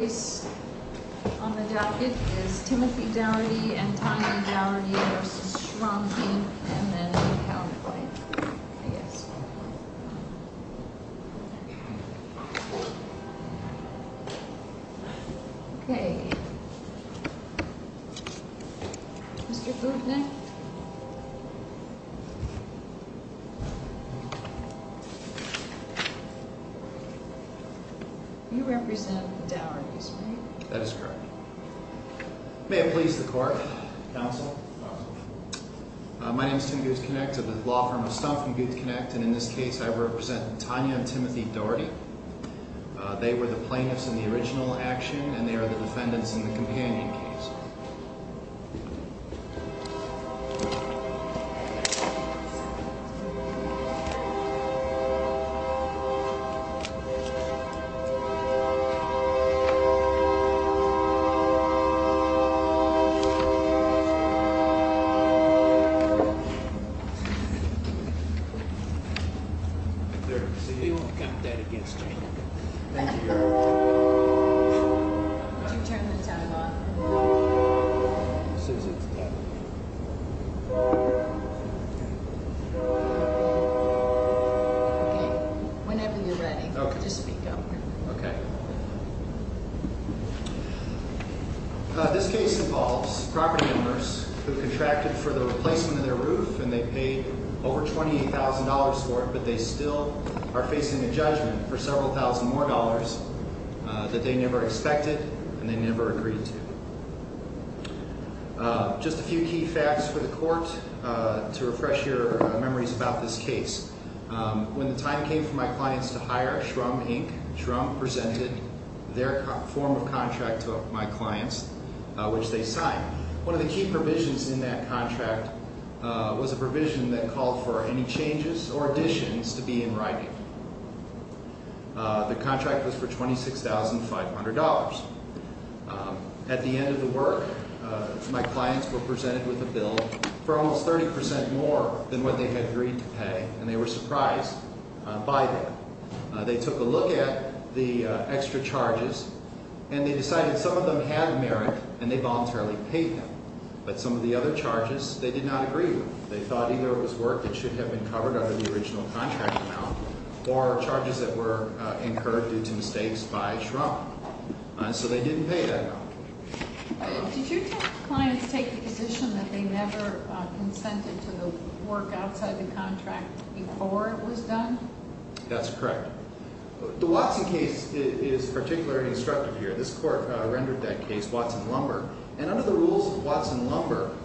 On the docket is Timothy Dougherty and Tanya Dougherty v. Shrum, Inc. And then a pound of white, I guess. Okay. Mr. Bootnick. You represent Dougherty's, right? That is correct. May it please the court. Counsel. Counsel. My name is Tim Guthknecht of the law firm of Stumpf and Guthknecht, and in this case I represent Tanya and Timothy Dougherty. They were the plaintiffs in the original action, and they are the defendants in the companion case. Thank you. We won't count that against you. Would you turn the time off? No. As soon as it's done. Okay. Whenever you're ready, just speak up. Okay. This case involves property owners who contracted for the replacement of their roof, and they paid over $28,000 for it, but they still are facing a judgment for several thousand more dollars that they never expected and they never agreed to. Just a few key facts for the court to refresh your memories about this case. When the time came for my clients to hire Shrum, Inc., Shrum presented their form of contract to my clients, which they signed. One of the key provisions in that contract was a provision that called for any changes or additions to be in writing. The contract was for $26,500. At the end of the work, my clients were presented with a bill for almost 30% more than what they had agreed to pay, and they were surprised by that. They took a look at the extra charges, and they decided some of them had merit, and they voluntarily paid them, but some of the other charges they did not agree with. They thought either it was work that should have been covered under the original contract amount or charges that were incurred due to mistakes by Shrum, and so they didn't pay that amount. Did your clients take the position that they never consented to the work outside the contract before it was done? That's correct. The Watson case is particularly instructive here. This court rendered that case Watson-Lumber, and under the rules of Watson-Lumber,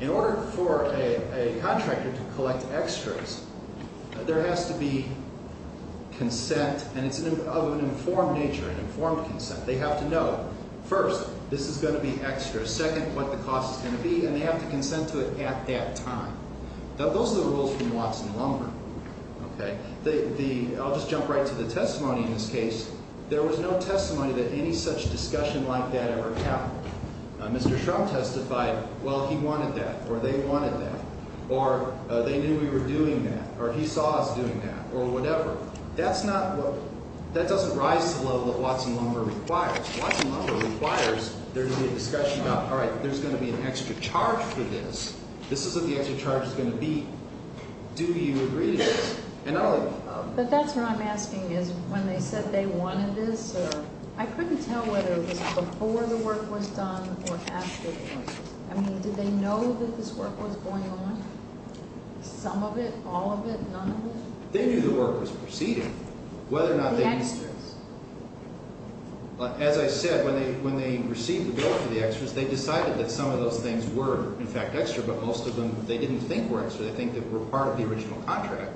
in order for a contractor to collect extras, there has to be consent, and it's of an informed nature, an informed consent. They have to know, first, this is going to be extra, second, what the cost is going to be, and they have to consent to it at that time. Those are the rules from Watson-Lumber. Okay. I'll just jump right to the testimony in this case. There was no testimony that any such discussion like that ever happened. Mr. Shrum testified, well, he wanted that, or they wanted that, or they knew we were doing that, or he saw us doing that, or whatever. That's not what – that doesn't rise to the level that Watson-Lumber requires. Watson-Lumber requires there to be a discussion about, all right, there's going to be an extra charge for this. This is what the extra charge is going to be. Do you agree to this? But that's what I'm asking is when they said they wanted this or – I couldn't tell whether it was before the work was done or after the work was done. I mean, did they know that this work was going on, some of it, all of it, none of it? They knew the work was proceeding, whether or not they – The extras. As I said, when they received the work for the extras, they decided that some of those things were, in fact, extra, but most of them they didn't think were extra. They think that were part of the original contract.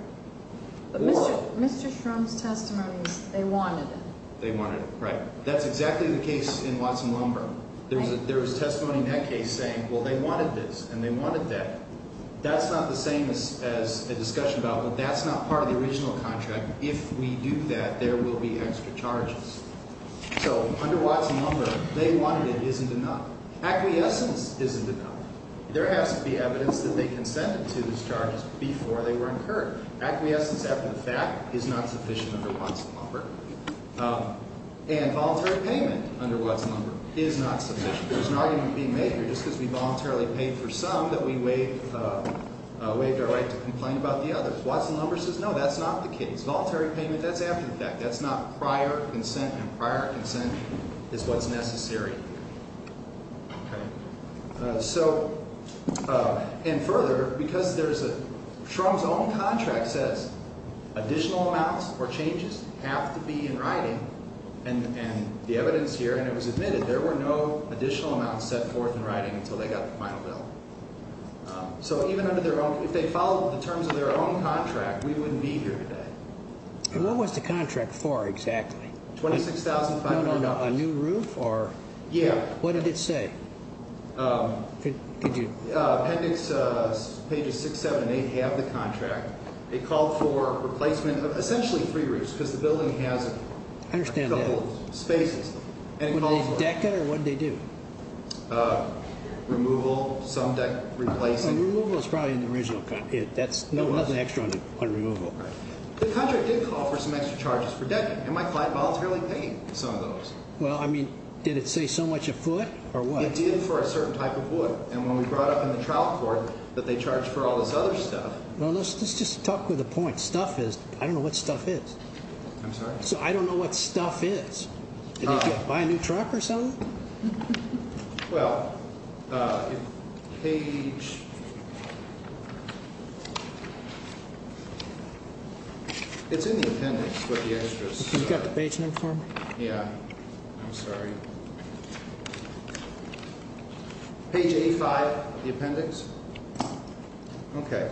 Mr. Shrum's testimony was they wanted it. They wanted it, right. That's exactly the case in Watson-Lumber. There was testimony in that case saying, well, they wanted this and they wanted that. That's not the same as a discussion about, well, that's not part of the original contract. If we do that, there will be extra charges. So under Watson-Lumber, they wanted it, isn't enough. Acquiescence isn't enough. There has to be evidence that they consented to these charges before they were incurred. Acquiescence after the fact is not sufficient under Watson-Lumber. And voluntary payment under Watson-Lumber is not sufficient. There's an argument being made here just because we voluntarily paid for some that we waived our right to complain about the others. Watson-Lumber says no, that's not the case. Voluntary payment, that's after the fact. That's not prior consent, and prior consent is what's necessary. Okay. So, and further, because there's a, Shrum's own contract says additional amounts or changes have to be in writing, and the evidence here, and it was admitted, there were no additional amounts set forth in writing until they got the final bill. So even under their own, if they followed the terms of their own contract, we wouldn't be here today. And what was the contract for exactly? $26,500. No, no, no. A new roof, or? Yeah. What did it say? Could you? Appendix pages 6, 7, and 8 have the contract. It called for replacement of essentially three roofs because the building has a couple of spaces. Would they deck it, or what did they do? Removal, some deck replacing. And removal is probably in the original contract. That's, no, nothing extra on removal. Right. The contract did call for some extra charges for decking. It might apply to voluntarily paying some of those. Well, I mean, did it say so much afoot, or what? It did for a certain type of wood, and when we brought up in the trial court that they charged for all this other stuff. Well, let's just talk with a point. Stuff is, I don't know what stuff is. I'm sorry? So I don't know what stuff is. Did they buy a new truck or something? Well, if page... It's in the appendix, but the extras... You got the page name for them? Yeah. I'm sorry. Page 85, the appendix. Okay.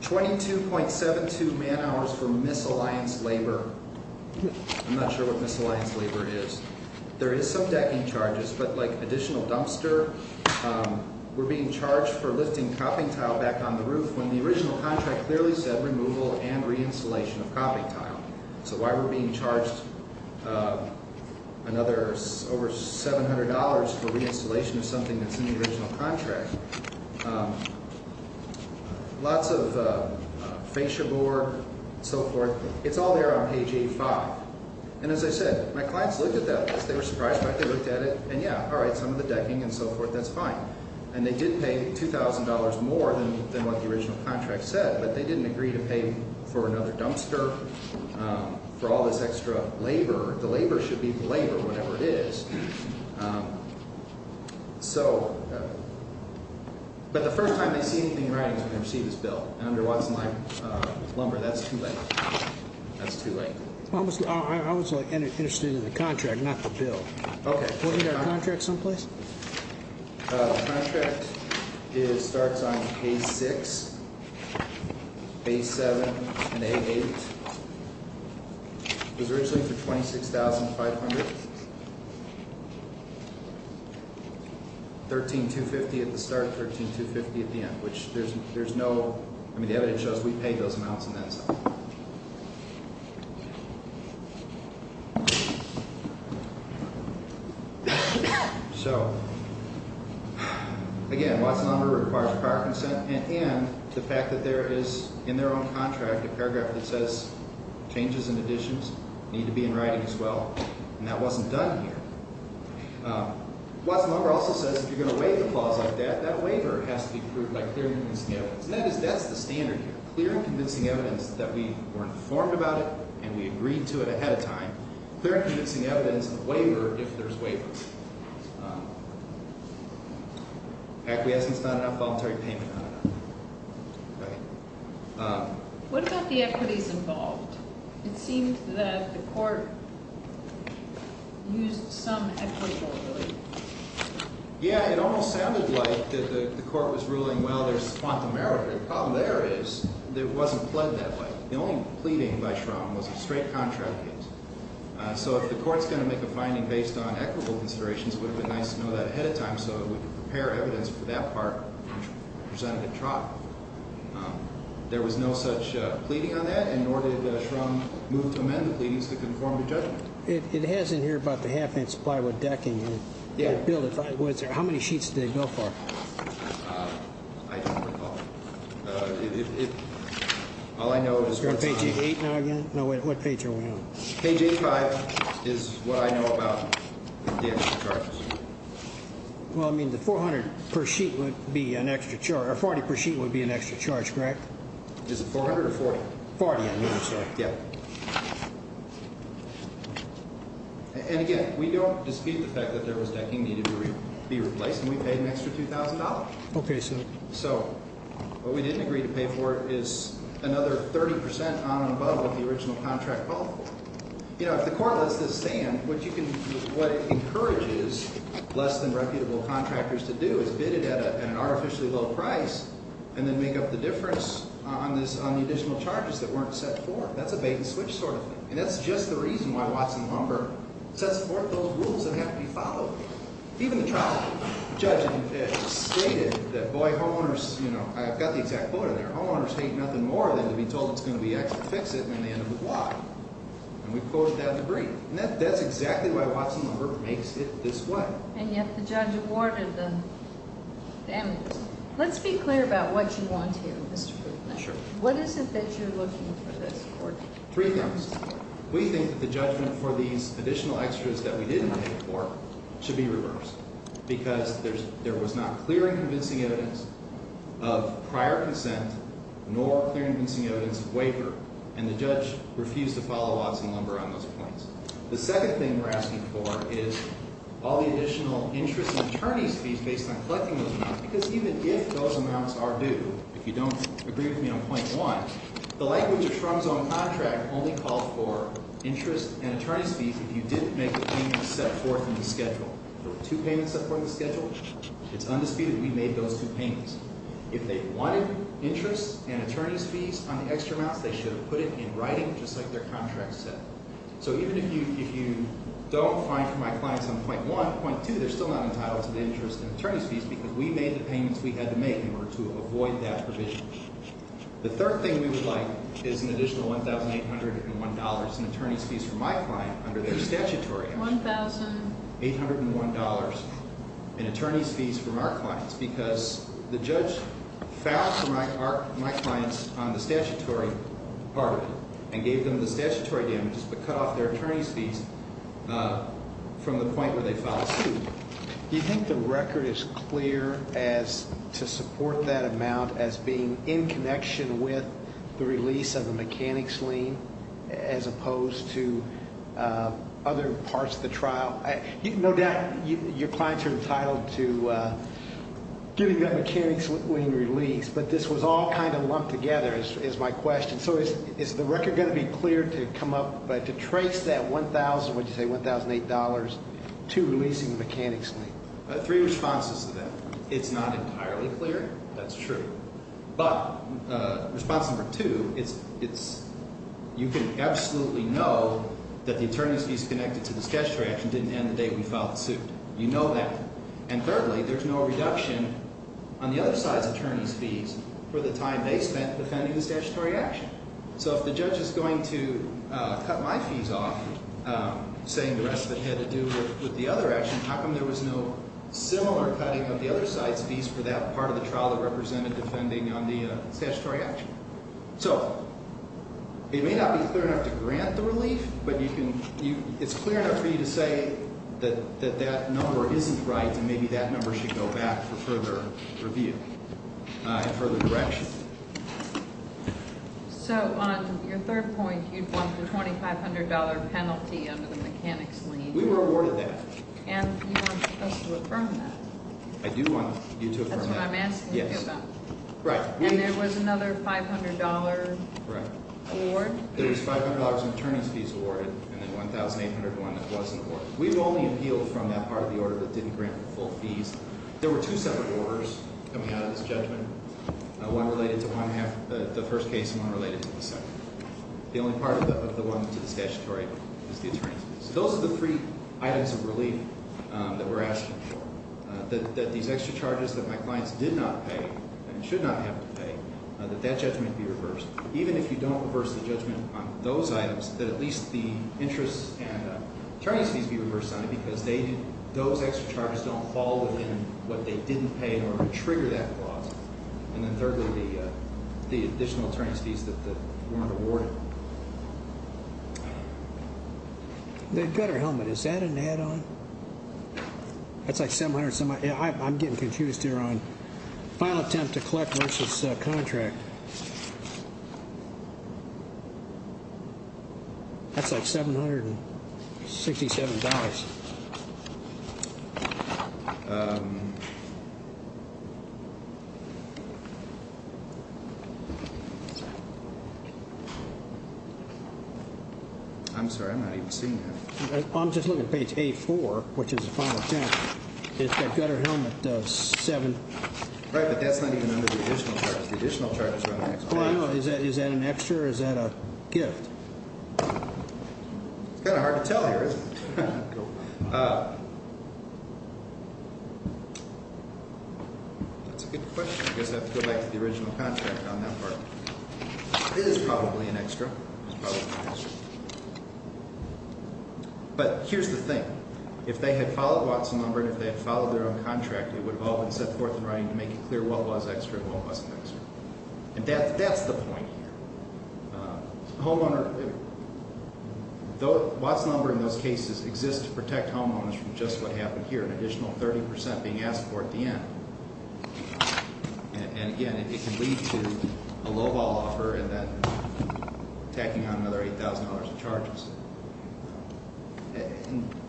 22.72 man hours for misalliance labor. I'm not sure what misalliance labor is. There is some decking charges, but, like, additional dumpster... We're being charged for lifting cropping tile back on the roof when the original contract clearly said removal and reinstallation of cropping tile. So why we're being charged another, over $700 for reinstallation of something that's in the original contract... Lots of fascia bore, and so forth. It's all there on page 85. And as I said, my clients looked at that list. They were surprised by it. They looked at it, and yeah, all right, some of the decking and so forth, that's fine. And they did pay $2,000 more than what the original contract said, but they didn't agree to pay for another dumpster, for all this extra labor. The labor should be the labor, whatever it is. So... But the first time they see anything in writing is when they receive this bill. And under Watson Lumber, that's too late. That's too late. I was interested in the contract, not the bill. Okay. Wasn't there a contract someplace? The contract starts on page 6, page 7, and page 8. It was originally for $26,500. $13,250 at the start, $13,250 at the end, which there's no... I mean, the evidence shows we paid those amounts in that time. Okay. So... Again, Watson Lumber requires prior consent and end to the fact that there is, in their own contract, a paragraph that says changes and additions need to be in writing as well. And that wasn't done here. Watson Lumber also says if you're going to waive a clause like that, that waiver has to be approved by clear and convincing evidence. And we agreed to it ahead of time. Clear and convincing evidence and a waiver, if there's waivers. Acquiescence, not enough. Voluntary payment, not enough. Okay. What about the equities involved? It seemed that the court used some equitable ability. Yeah, it almost sounded like the court was ruling, well, there's quantum error here. The problem there is it wasn't pled that way. The only pleading by Shrum was a straight contract. So if the court's going to make a finding based on equitable considerations, it would have been nice to know that ahead of time so we could prepare evidence for that part. There was no such pleading on that, and nor did Shrum move to amend the pleadings to conform to judgment. It has in here about the half-inch plywood decking. Bill, how many sheets did they go for? I don't recall. All I know is… You're on page 8 now again? No, what page are we on? Page 8-5 is what I know about the extra charges. Well, I mean, the 400 per sheet would be an extra charge, or 40 per sheet would be an extra charge, correct? Is it 400 or 40? 40, I believe, sir. Yeah. And again, we don't dispute the fact that there was decking needed to be replaced, and we paid an extra $2,000. Okay, so… What we didn't agree to pay for is another 30% on and above what the original contract called for. You know, if the court lets this stand, what it encourages less-than-reputable contractors to do is bid it at an artificially low price and then make up the difference on the additional charges that weren't set forth. That's a bait-and-switch sort of thing, and that's just the reason why Watson Lumber sets forth those rules that have to be followed. Even the trial judge stated that, boy, homeowners, you know, I've got the exact quote in there, homeowners hate nothing more than to be told it's going to be extra, fix it, and then they end up with why. And we've quoted that in the brief. And that's exactly why Watson Lumber makes it this way. And yet the judge awarded the damages. Let's be clear about what you want here, Mr. Fulton. Sure. What is it that you're looking for this court? Three things. We think that the judgment for these additional extras that we didn't pay for should be reversed because there was not clear and convincing evidence of prior consent nor clear and convincing evidence of waiver. And the judge refused to follow Watson Lumber on those points. The second thing we're asking for is all the additional interest in attorneys fees based on collecting those amounts because even if those amounts are due, if you don't agree with me on point one, the language of Shrum's own contract only called for interest and attorney's fees if you didn't make the payment set forth in the schedule. There were two payments set forth in the schedule. It's undisputed we made those two payments. If they wanted interest and attorney's fees on the extra amounts, they should have put it in writing just like their contract said. So even if you don't find from my clients on point one, point two, they're still not entitled to the interest and attorney's fees because we made the payments we had to make in order to avoid that provision. The third thing we would like is an additional one thousand eight hundred and one dollars in attorney's fees from my client under their statutory. One thousand eight hundred and one dollars in attorney's fees from our clients because the judge found my clients on the statutory part and gave them the statutory damages but cut off their attorney's fees from the point where they filed a suit. Do you think the record is clear as to support that amount as being in connection with the release of the mechanics lien as opposed to other parts of the trial? No doubt your clients are entitled to getting that mechanics lien release, but this was all kind of lumped together is my question. So is the record going to be clear to trace that one thousand, what did you say, one thousand eight dollars to releasing the mechanics lien? Three responses to that. It's not entirely clear. That's true. But response number two, you can absolutely know that the attorney's fees connected to the statutory action didn't end the day we filed the suit. You know that. And thirdly, there's no reduction on the other side's attorney's fees for the time they spent defending the statutory action. So if the judge is going to cut my fees off, saying the rest of it had to do with the other action, how come there was no similar cutting of the other side's fees for that part of the trial that represented defending on the statutory action? So it may not be clear enough to grant the relief, but it's clear enough for you to say that that number isn't right and maybe that number should go back for further review and further direction. So on your third point, you'd want the $2,500 penalty under the mechanics lien. We were awarded that. And you want us to affirm that. I do want you to affirm that. That's what I'm asking you about. Yes. Right. And there was another $500 award? There was $500 in attorney's fees awarded and then $1,801 that wasn't awarded. We've only appealed from that part of the order that didn't grant the full fees. There were two separate orders coming out of this judgment, one related to the first case and one related to the second. The only part of the one to the statutory is the attorney's fees. So those are the three items of relief that we're asking for, that these extra charges that my clients did not pay and should not have to pay, that that judgment be reversed. Even if you don't reverse the judgment on those items, that at least the interest and attorney's fees be reversed on it because those extra charges don't fall within what they didn't pay in order to trigger that clause. And then thirdly, the additional attorney's fees that weren't awarded. The gutter helmet, is that an add-on? That's like $700. I'm getting confused here on file attempt to collect versus contract. That's like $767. I'm sorry, I'm not even seeing that. I'm just looking at page A4, which is the final attempt. It's that gutter helmet 7. Right, but that's not even under the additional charges. The additional charges are on the next page. Well, I know. Is that an extra? Is that a gift? It's kind of hard to tell here, isn't it? That's a good question. I guess I have to go back to the original contract on that part. It is probably an extra. It's probably an extra. But here's the thing. If they had followed Watson-Lumber and if they had followed their own contract, it would have all been set forth in writing to make it clear what was extra and what wasn't extra. And that's the point here. Watson-Lumber in those cases exists to protect homeowners from just what happened here, an additional 30% being asked for at the end. And, again, it can lead to a lowball offer and then tacking on another $8,000 of charges.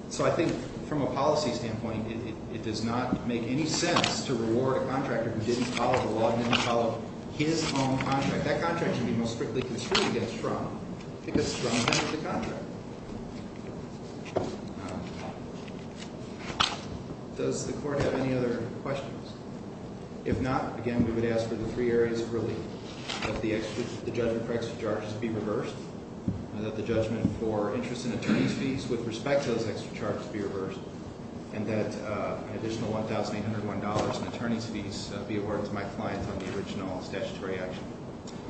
So I think from a policy standpoint, it does not make any sense to reward a contractor who didn't follow the law and didn't follow his own contract. That contract should be most strictly construed against Fraun because Fraun vented the contract. Does the Court have any other questions? If not, again, we would ask for the three areas of relief, that the judgment for extra charges be reversed, that the judgment for interest in attorney's fees with respect to those extra charges be reversed, and that an additional $1,801 in attorney's fees be awarded to my client on the original statutory action.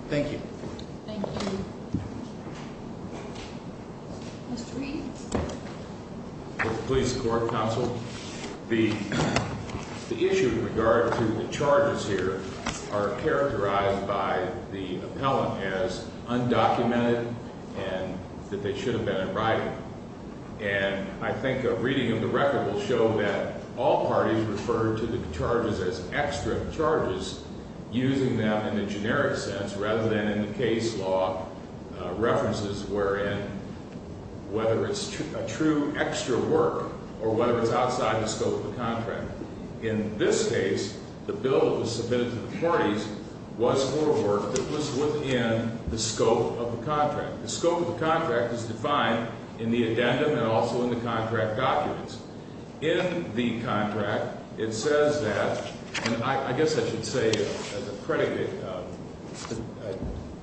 Thank you. Thank you. Mr. Reed? Police Court Counsel, the issue in regard to the charges here are characterized by the appellant as undocumented and that they should have been in writing. And I think a reading of the record will show that all parties referred to the charges as extra charges, using them in a generic sense, rather than in the case law references wherein whether it's a true extra work or whether it's outside the scope of the contract. In this case, the bill that was submitted to the parties was for work that was within the scope of the contract. The scope of the contract is defined in the addendum and also in the contract documents. In the contract, it says that, and I guess I should say as a predicate,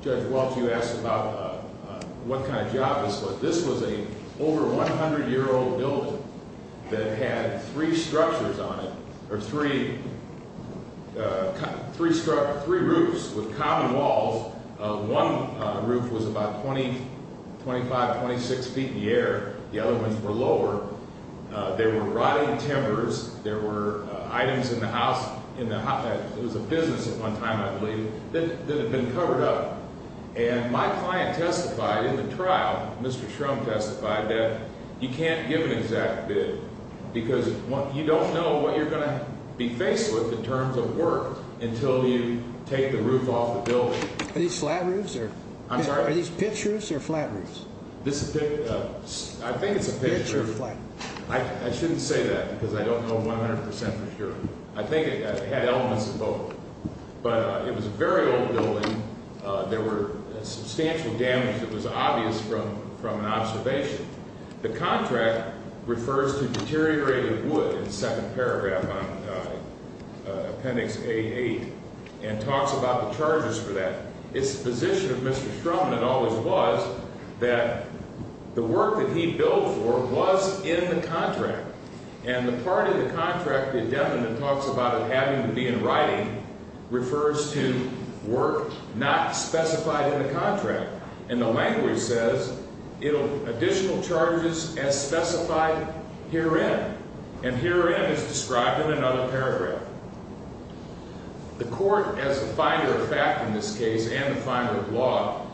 Judge Welch, you asked about what kind of job this was. This was an over 100-year-old building that had three structures on it, or three roofs with common walls. One roof was about 20, 25, 26 feet in the air. The other ones were lower. There were rotting timbers. There were items in the house, it was a business at one time, I believe, that had been covered up. And my client testified in the trial, Mr. Shrum testified, that you can't give an exact bid because you don't know what you're going to be faced with in terms of work until you take the roof off the building. Are these flat roofs? I'm sorry? Are these pitch roofs or flat roofs? I think it's a pitch roof. I shouldn't say that because I don't know 100% for sure. I think it had elements of both. But it was a very old building. There was substantial damage that was obvious from an observation. The contract refers to deteriorated wood in the second paragraph on Appendix A-8 and talks about the charges for that. It's the position of Mr. Shrum, and it always was, that the work that he billed for was in the contract. And the part of the contract that Devin talks about it having to be in writing refers to work not specified in the contract. And the language says additional charges as specified herein. And herein is described in another paragraph. The court, as the finder of fact in this case and the finder of law,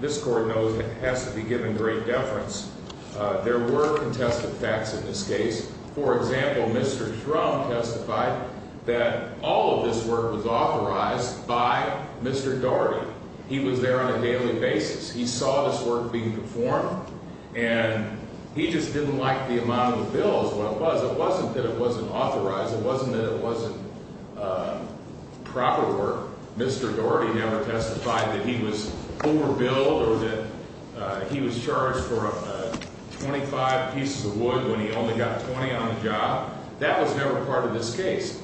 this court knows it has to be given great deference. There were contested facts in this case. For example, Mr. Shrum testified that all of this work was authorized by Mr. Daugherty. He was there on a daily basis. He saw this work being performed. And he just didn't like the amount of the bills, what it was. It wasn't that it wasn't authorized. It wasn't that it wasn't proper work. Mr. Daugherty never testified that he was overbilled or that he was charged for 25 pieces of wood when he only got 20 on the job. That was never part of this case.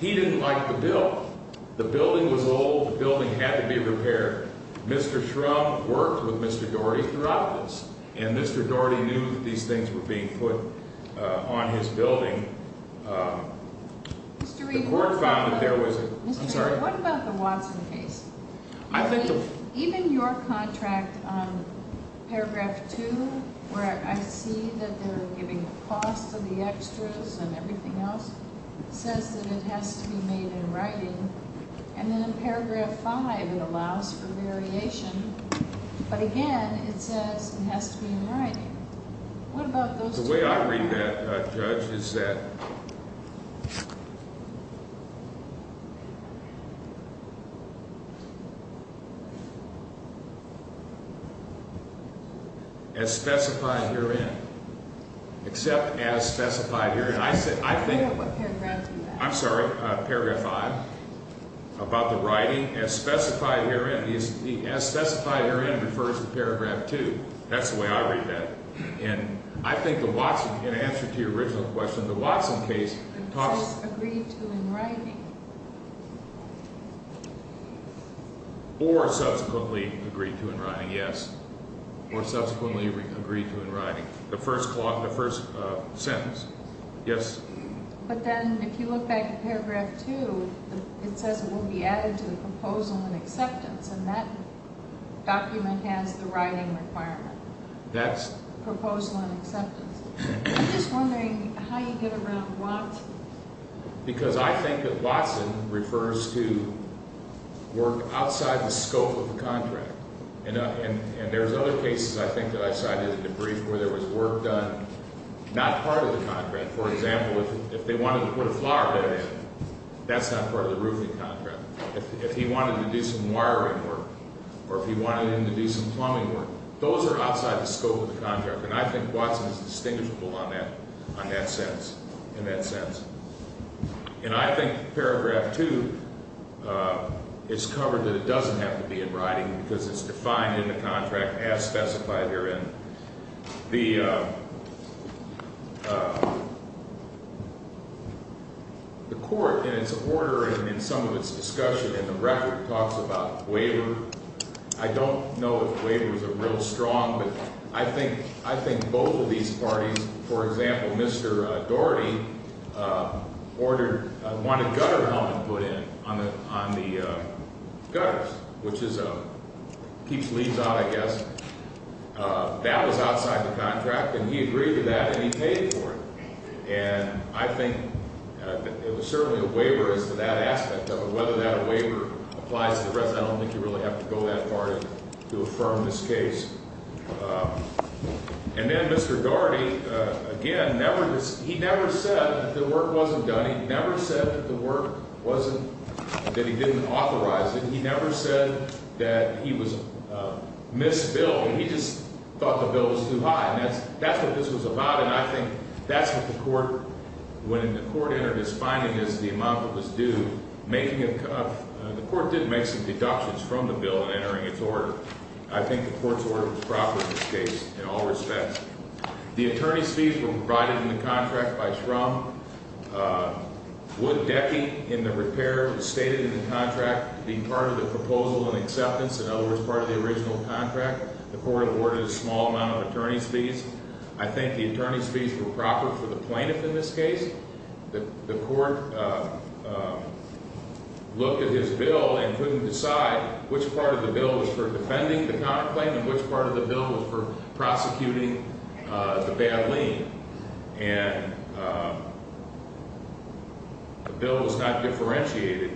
He didn't like the bill. The building was old. The building had to be repaired. Mr. Shrum worked with Mr. Daugherty throughout this. And Mr. Daugherty knew that these things were being put on his building. Mr. Reid, what about the Watson case? Even your contract on paragraph 2, where I see that they're giving the cost of the extras and everything else, says that it has to be made in writing. And then in paragraph 5, it allows for variation. But again, it says it has to be in writing. What about those two? The way I read that, Judge, is that as specified herein, except as specified herein. I think paragraph 5, about the writing, as specified herein, as specified herein refers to paragraph 2. That's the way I read that. And I think the Watson, in answer to your original question, the Watson case talks- It says agreed to in writing. Or subsequently agreed to in writing, yes. Or subsequently agreed to in writing. The first clause, the first sentence, yes. But then if you look back at paragraph 2, it says it will be added to the proposal in acceptance. And that document has the writing requirement. Proposal in acceptance. I'm just wondering how you get around Watson. Because I think that Watson refers to work outside the scope of the contract. And there's other cases, I think, that I cited in the brief where there was work done not part of the contract. For example, if they wanted to put a flower bed in, that's not part of the roofing contract. If he wanted to do some wiring work, or if he wanted them to do some plumbing work, those are outside the scope of the contract. And I think Watson is distinguishable on that, on that sentence, in that sentence. And I think paragraph 2 is covered that it doesn't have to be in writing, because it's defined in the contract as specified herein. The court, in its order and in some of its discussion, in the record, talks about waiver. I don't know if waivers are real strong, but I think both of these parties, for example, Mr. Daugherty wanted a gutter element put in on the gutters, which keeps leaves out, I guess. That was outside the contract, and he agreed to that, and he paid for it. And I think it was certainly a waiver as to that aspect of it, whether that waiver applies to the rest. I don't think you really have to go that far to affirm this case. And then Mr. Daugherty, again, never, he never said that the work wasn't done. He never said that the work wasn't, that he didn't authorize it. He never said that he was, missed bill. He just thought the bill was too high, and that's what this was about. And I think that's what the court, when the court entered its finding is the amount that was due, the court did make some deductions from the bill in entering its order. I think the court's order was proper in this case in all respects. The attorney's fees were provided in the contract by Shrum. Wood Decky in the repair stated in the contract to be part of the proposal and acceptance, in other words, part of the original contract. The court awarded a small amount of attorney's fees. I think the attorney's fees were proper for the plaintiff in this case. The court looked at his bill and couldn't decide which part of the bill was for defending the counterclaim and which part of the bill was for prosecuting the bad lien. And the bill was not differentiated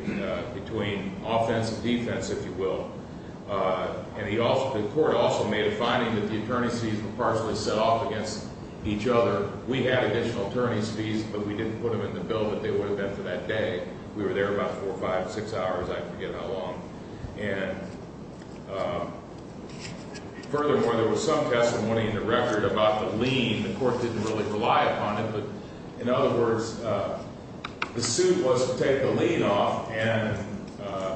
between offense and defense, if you will. And he also, the court also made a finding that the attorney's fees were partially set off against each other. We had additional attorney's fees, but we didn't put them in the bill, but they would have been for that day. We were there about four, five, six hours. I forget how long. And furthermore, there was some testimony in the record about the lien. The court didn't really rely upon it, but in other words, the suit was to take the lien off, and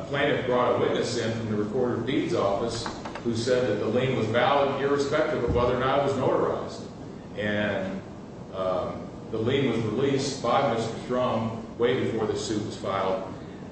plaintiff brought a witness in from the recorder of deeds office who said that the lien was valid irrespective of whether or not it was notarized. And the lien was released by Mr. Strum way before the suit was filed.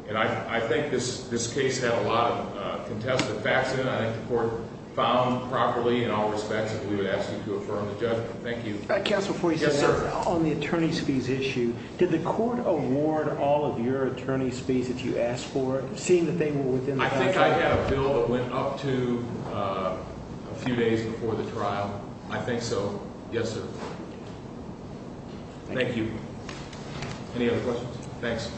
And I think this case had a lot of contested facts in it. I think the court found properly in all respects that we would ask you to affirm the judgment. Thank you. Counsel, before you say something, on the attorney's fees issue, did the court award all of your attorney's fees that you asked for, seeing that they were within the- I think I had a bill that went up to a few days before the trial. I think so. Yes, sir. Thank you. Any other questions? Thanks.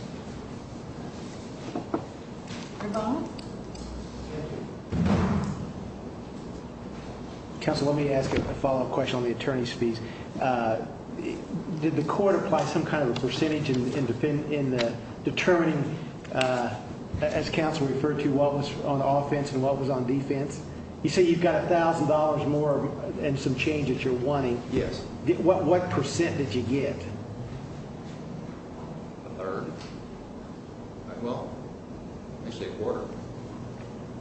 Counsel, let me ask a follow-up question on the attorney's fees. Did the court apply some kind of a percentage in determining, as counsel referred to, what was on offense and what was on defense? You say you've got $1,000 more and some change that you're wanting. Yes. What percent did you get? A third. Well, actually a quarter.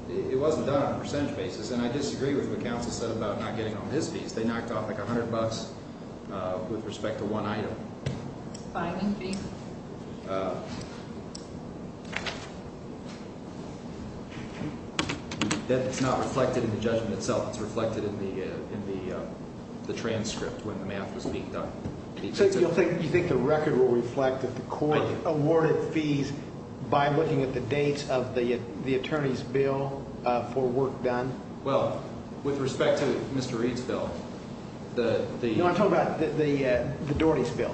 It wasn't done on a percentage basis, and I disagree with what counsel said about not getting on his fees. They knocked off, like, $100 with respect to one item. Filing fees? That's not reflected in the judgment itself. It's reflected in the transcript when the math was being done. So you think the record will reflect that the court awarded fees by looking at the dates of the attorney's bill for work done? Well, with respect to Mr. Reed's bill, the- No, I'm talking about the Doherty's bill.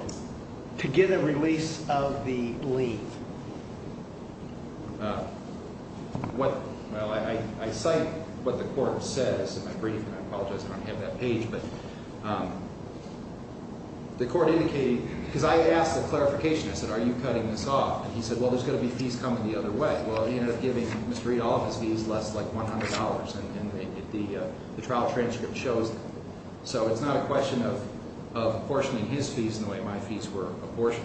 To get a release of the leave. What-well, I cite what the court says in my brief, and I apologize I don't have that page, but the court indicated-because I asked the clarification. I said, are you cutting this off? And he said, well, there's going to be fees coming the other way. Well, he ended up giving Mr. Reed all of his fees, less like $100, and the trial transcript shows that. So it's not a question of apportioning his fees in the way my fees were apportioned.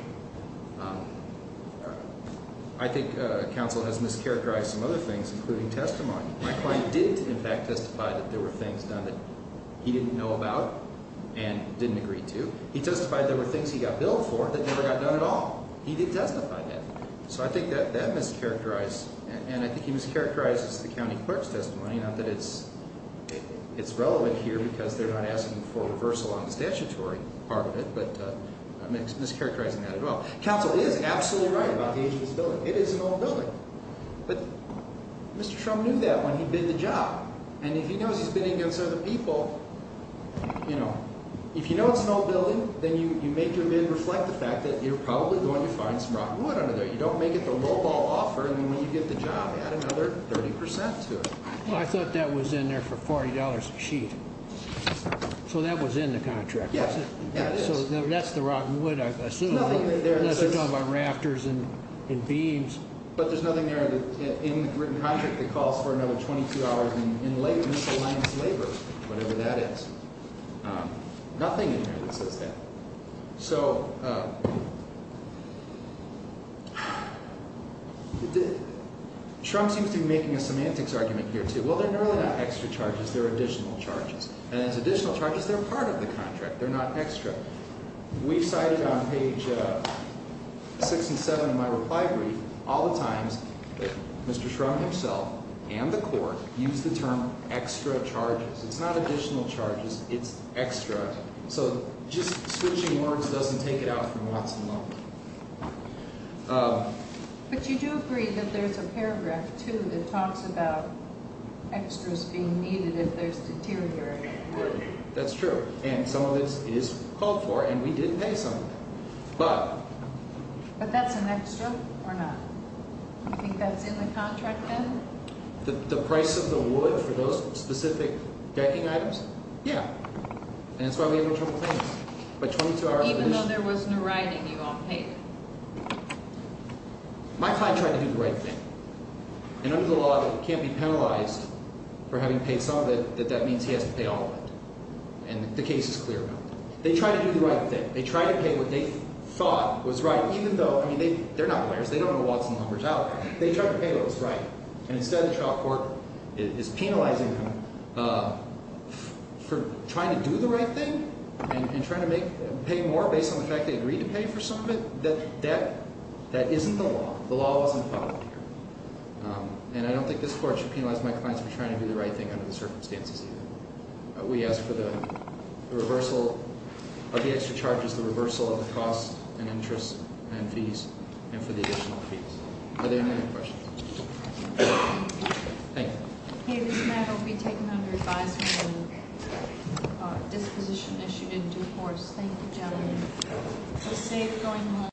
I think counsel has mischaracterized some other things, including testimony. My client did, in fact, testify that there were things done that he didn't know about and didn't agree to. He testified there were things he got billed for that never got done at all. He did testify that. So I think that that mischaracterized, and I think he mischaracterized the county clerk's testimony. Not that it's relevant here because they're not asking for reversal on the statutory part of it, but I'm mischaracterizing that as well. Counsel is absolutely right about the age of this building. It is an old building. But Mr. Trump knew that when he bid the job. And if he knows he's bidding against other people, you know, if you know it's an old building, then you make your bid reflect the fact that you're probably going to find some rotten wood under there. You don't make it the lowball offer, and then when you get the job, add another 30 percent to it. I thought that was in there for $40 a sheet. So that was in the contract. Yes, it is. So that's the rotten wood, I assume, unless you're talking about rafters and beams. But there's nothing there in the written contract that calls for another 22 hours in miscellaneous labor, whatever that is. Nothing in there that says that. So Trump seems to be making a semantics argument here, too. Well, they're really not extra charges. They're additional charges. And as additional charges, they're part of the contract. They're not extra. We cited on page 6 and 7 of my reply brief all the times that Mr. Trump himself and the court used the term extra charges. It's not additional charges. It's extra. So just switching words doesn't take it out from Watson-Lowe. But you do agree that there's a paragraph, too, that talks about extras being needed if there's deteriorating wood. That's true. And some of it is called for, and we did pay some of it. But that's an extra or not? Do you think that's in the contract then? The price of the wood for those specific decking items? Yeah. And that's why we have no trouble paying it. But 22 hours of miscellaneous – Even though there was no writing you all paid? My client tried to do the right thing. And under the law, it can't be penalized for having paid some of it, that that means he has to pay all of it. And the case is clear about that. They tried to do the right thing. They tried to pay what they thought was right, even though – I mean they're not lawyers. They don't know Watson-Lowe very well. They tried to pay what was right, and instead the trial court is penalizing them for trying to do the right thing and trying to pay more based on the fact they agreed to pay for some of it. That isn't the law. The law wasn't followed here. And I don't think this court should penalize my clients for trying to do the right thing under the circumstances either. We ask for the reversal of the extra charges, the reversal of the cost and interest and fees, and for the additional fees. Are there any other questions? Thank you. Okay, this matter will be taken under advisement and disposition issued in due course. Thank you, gentlemen.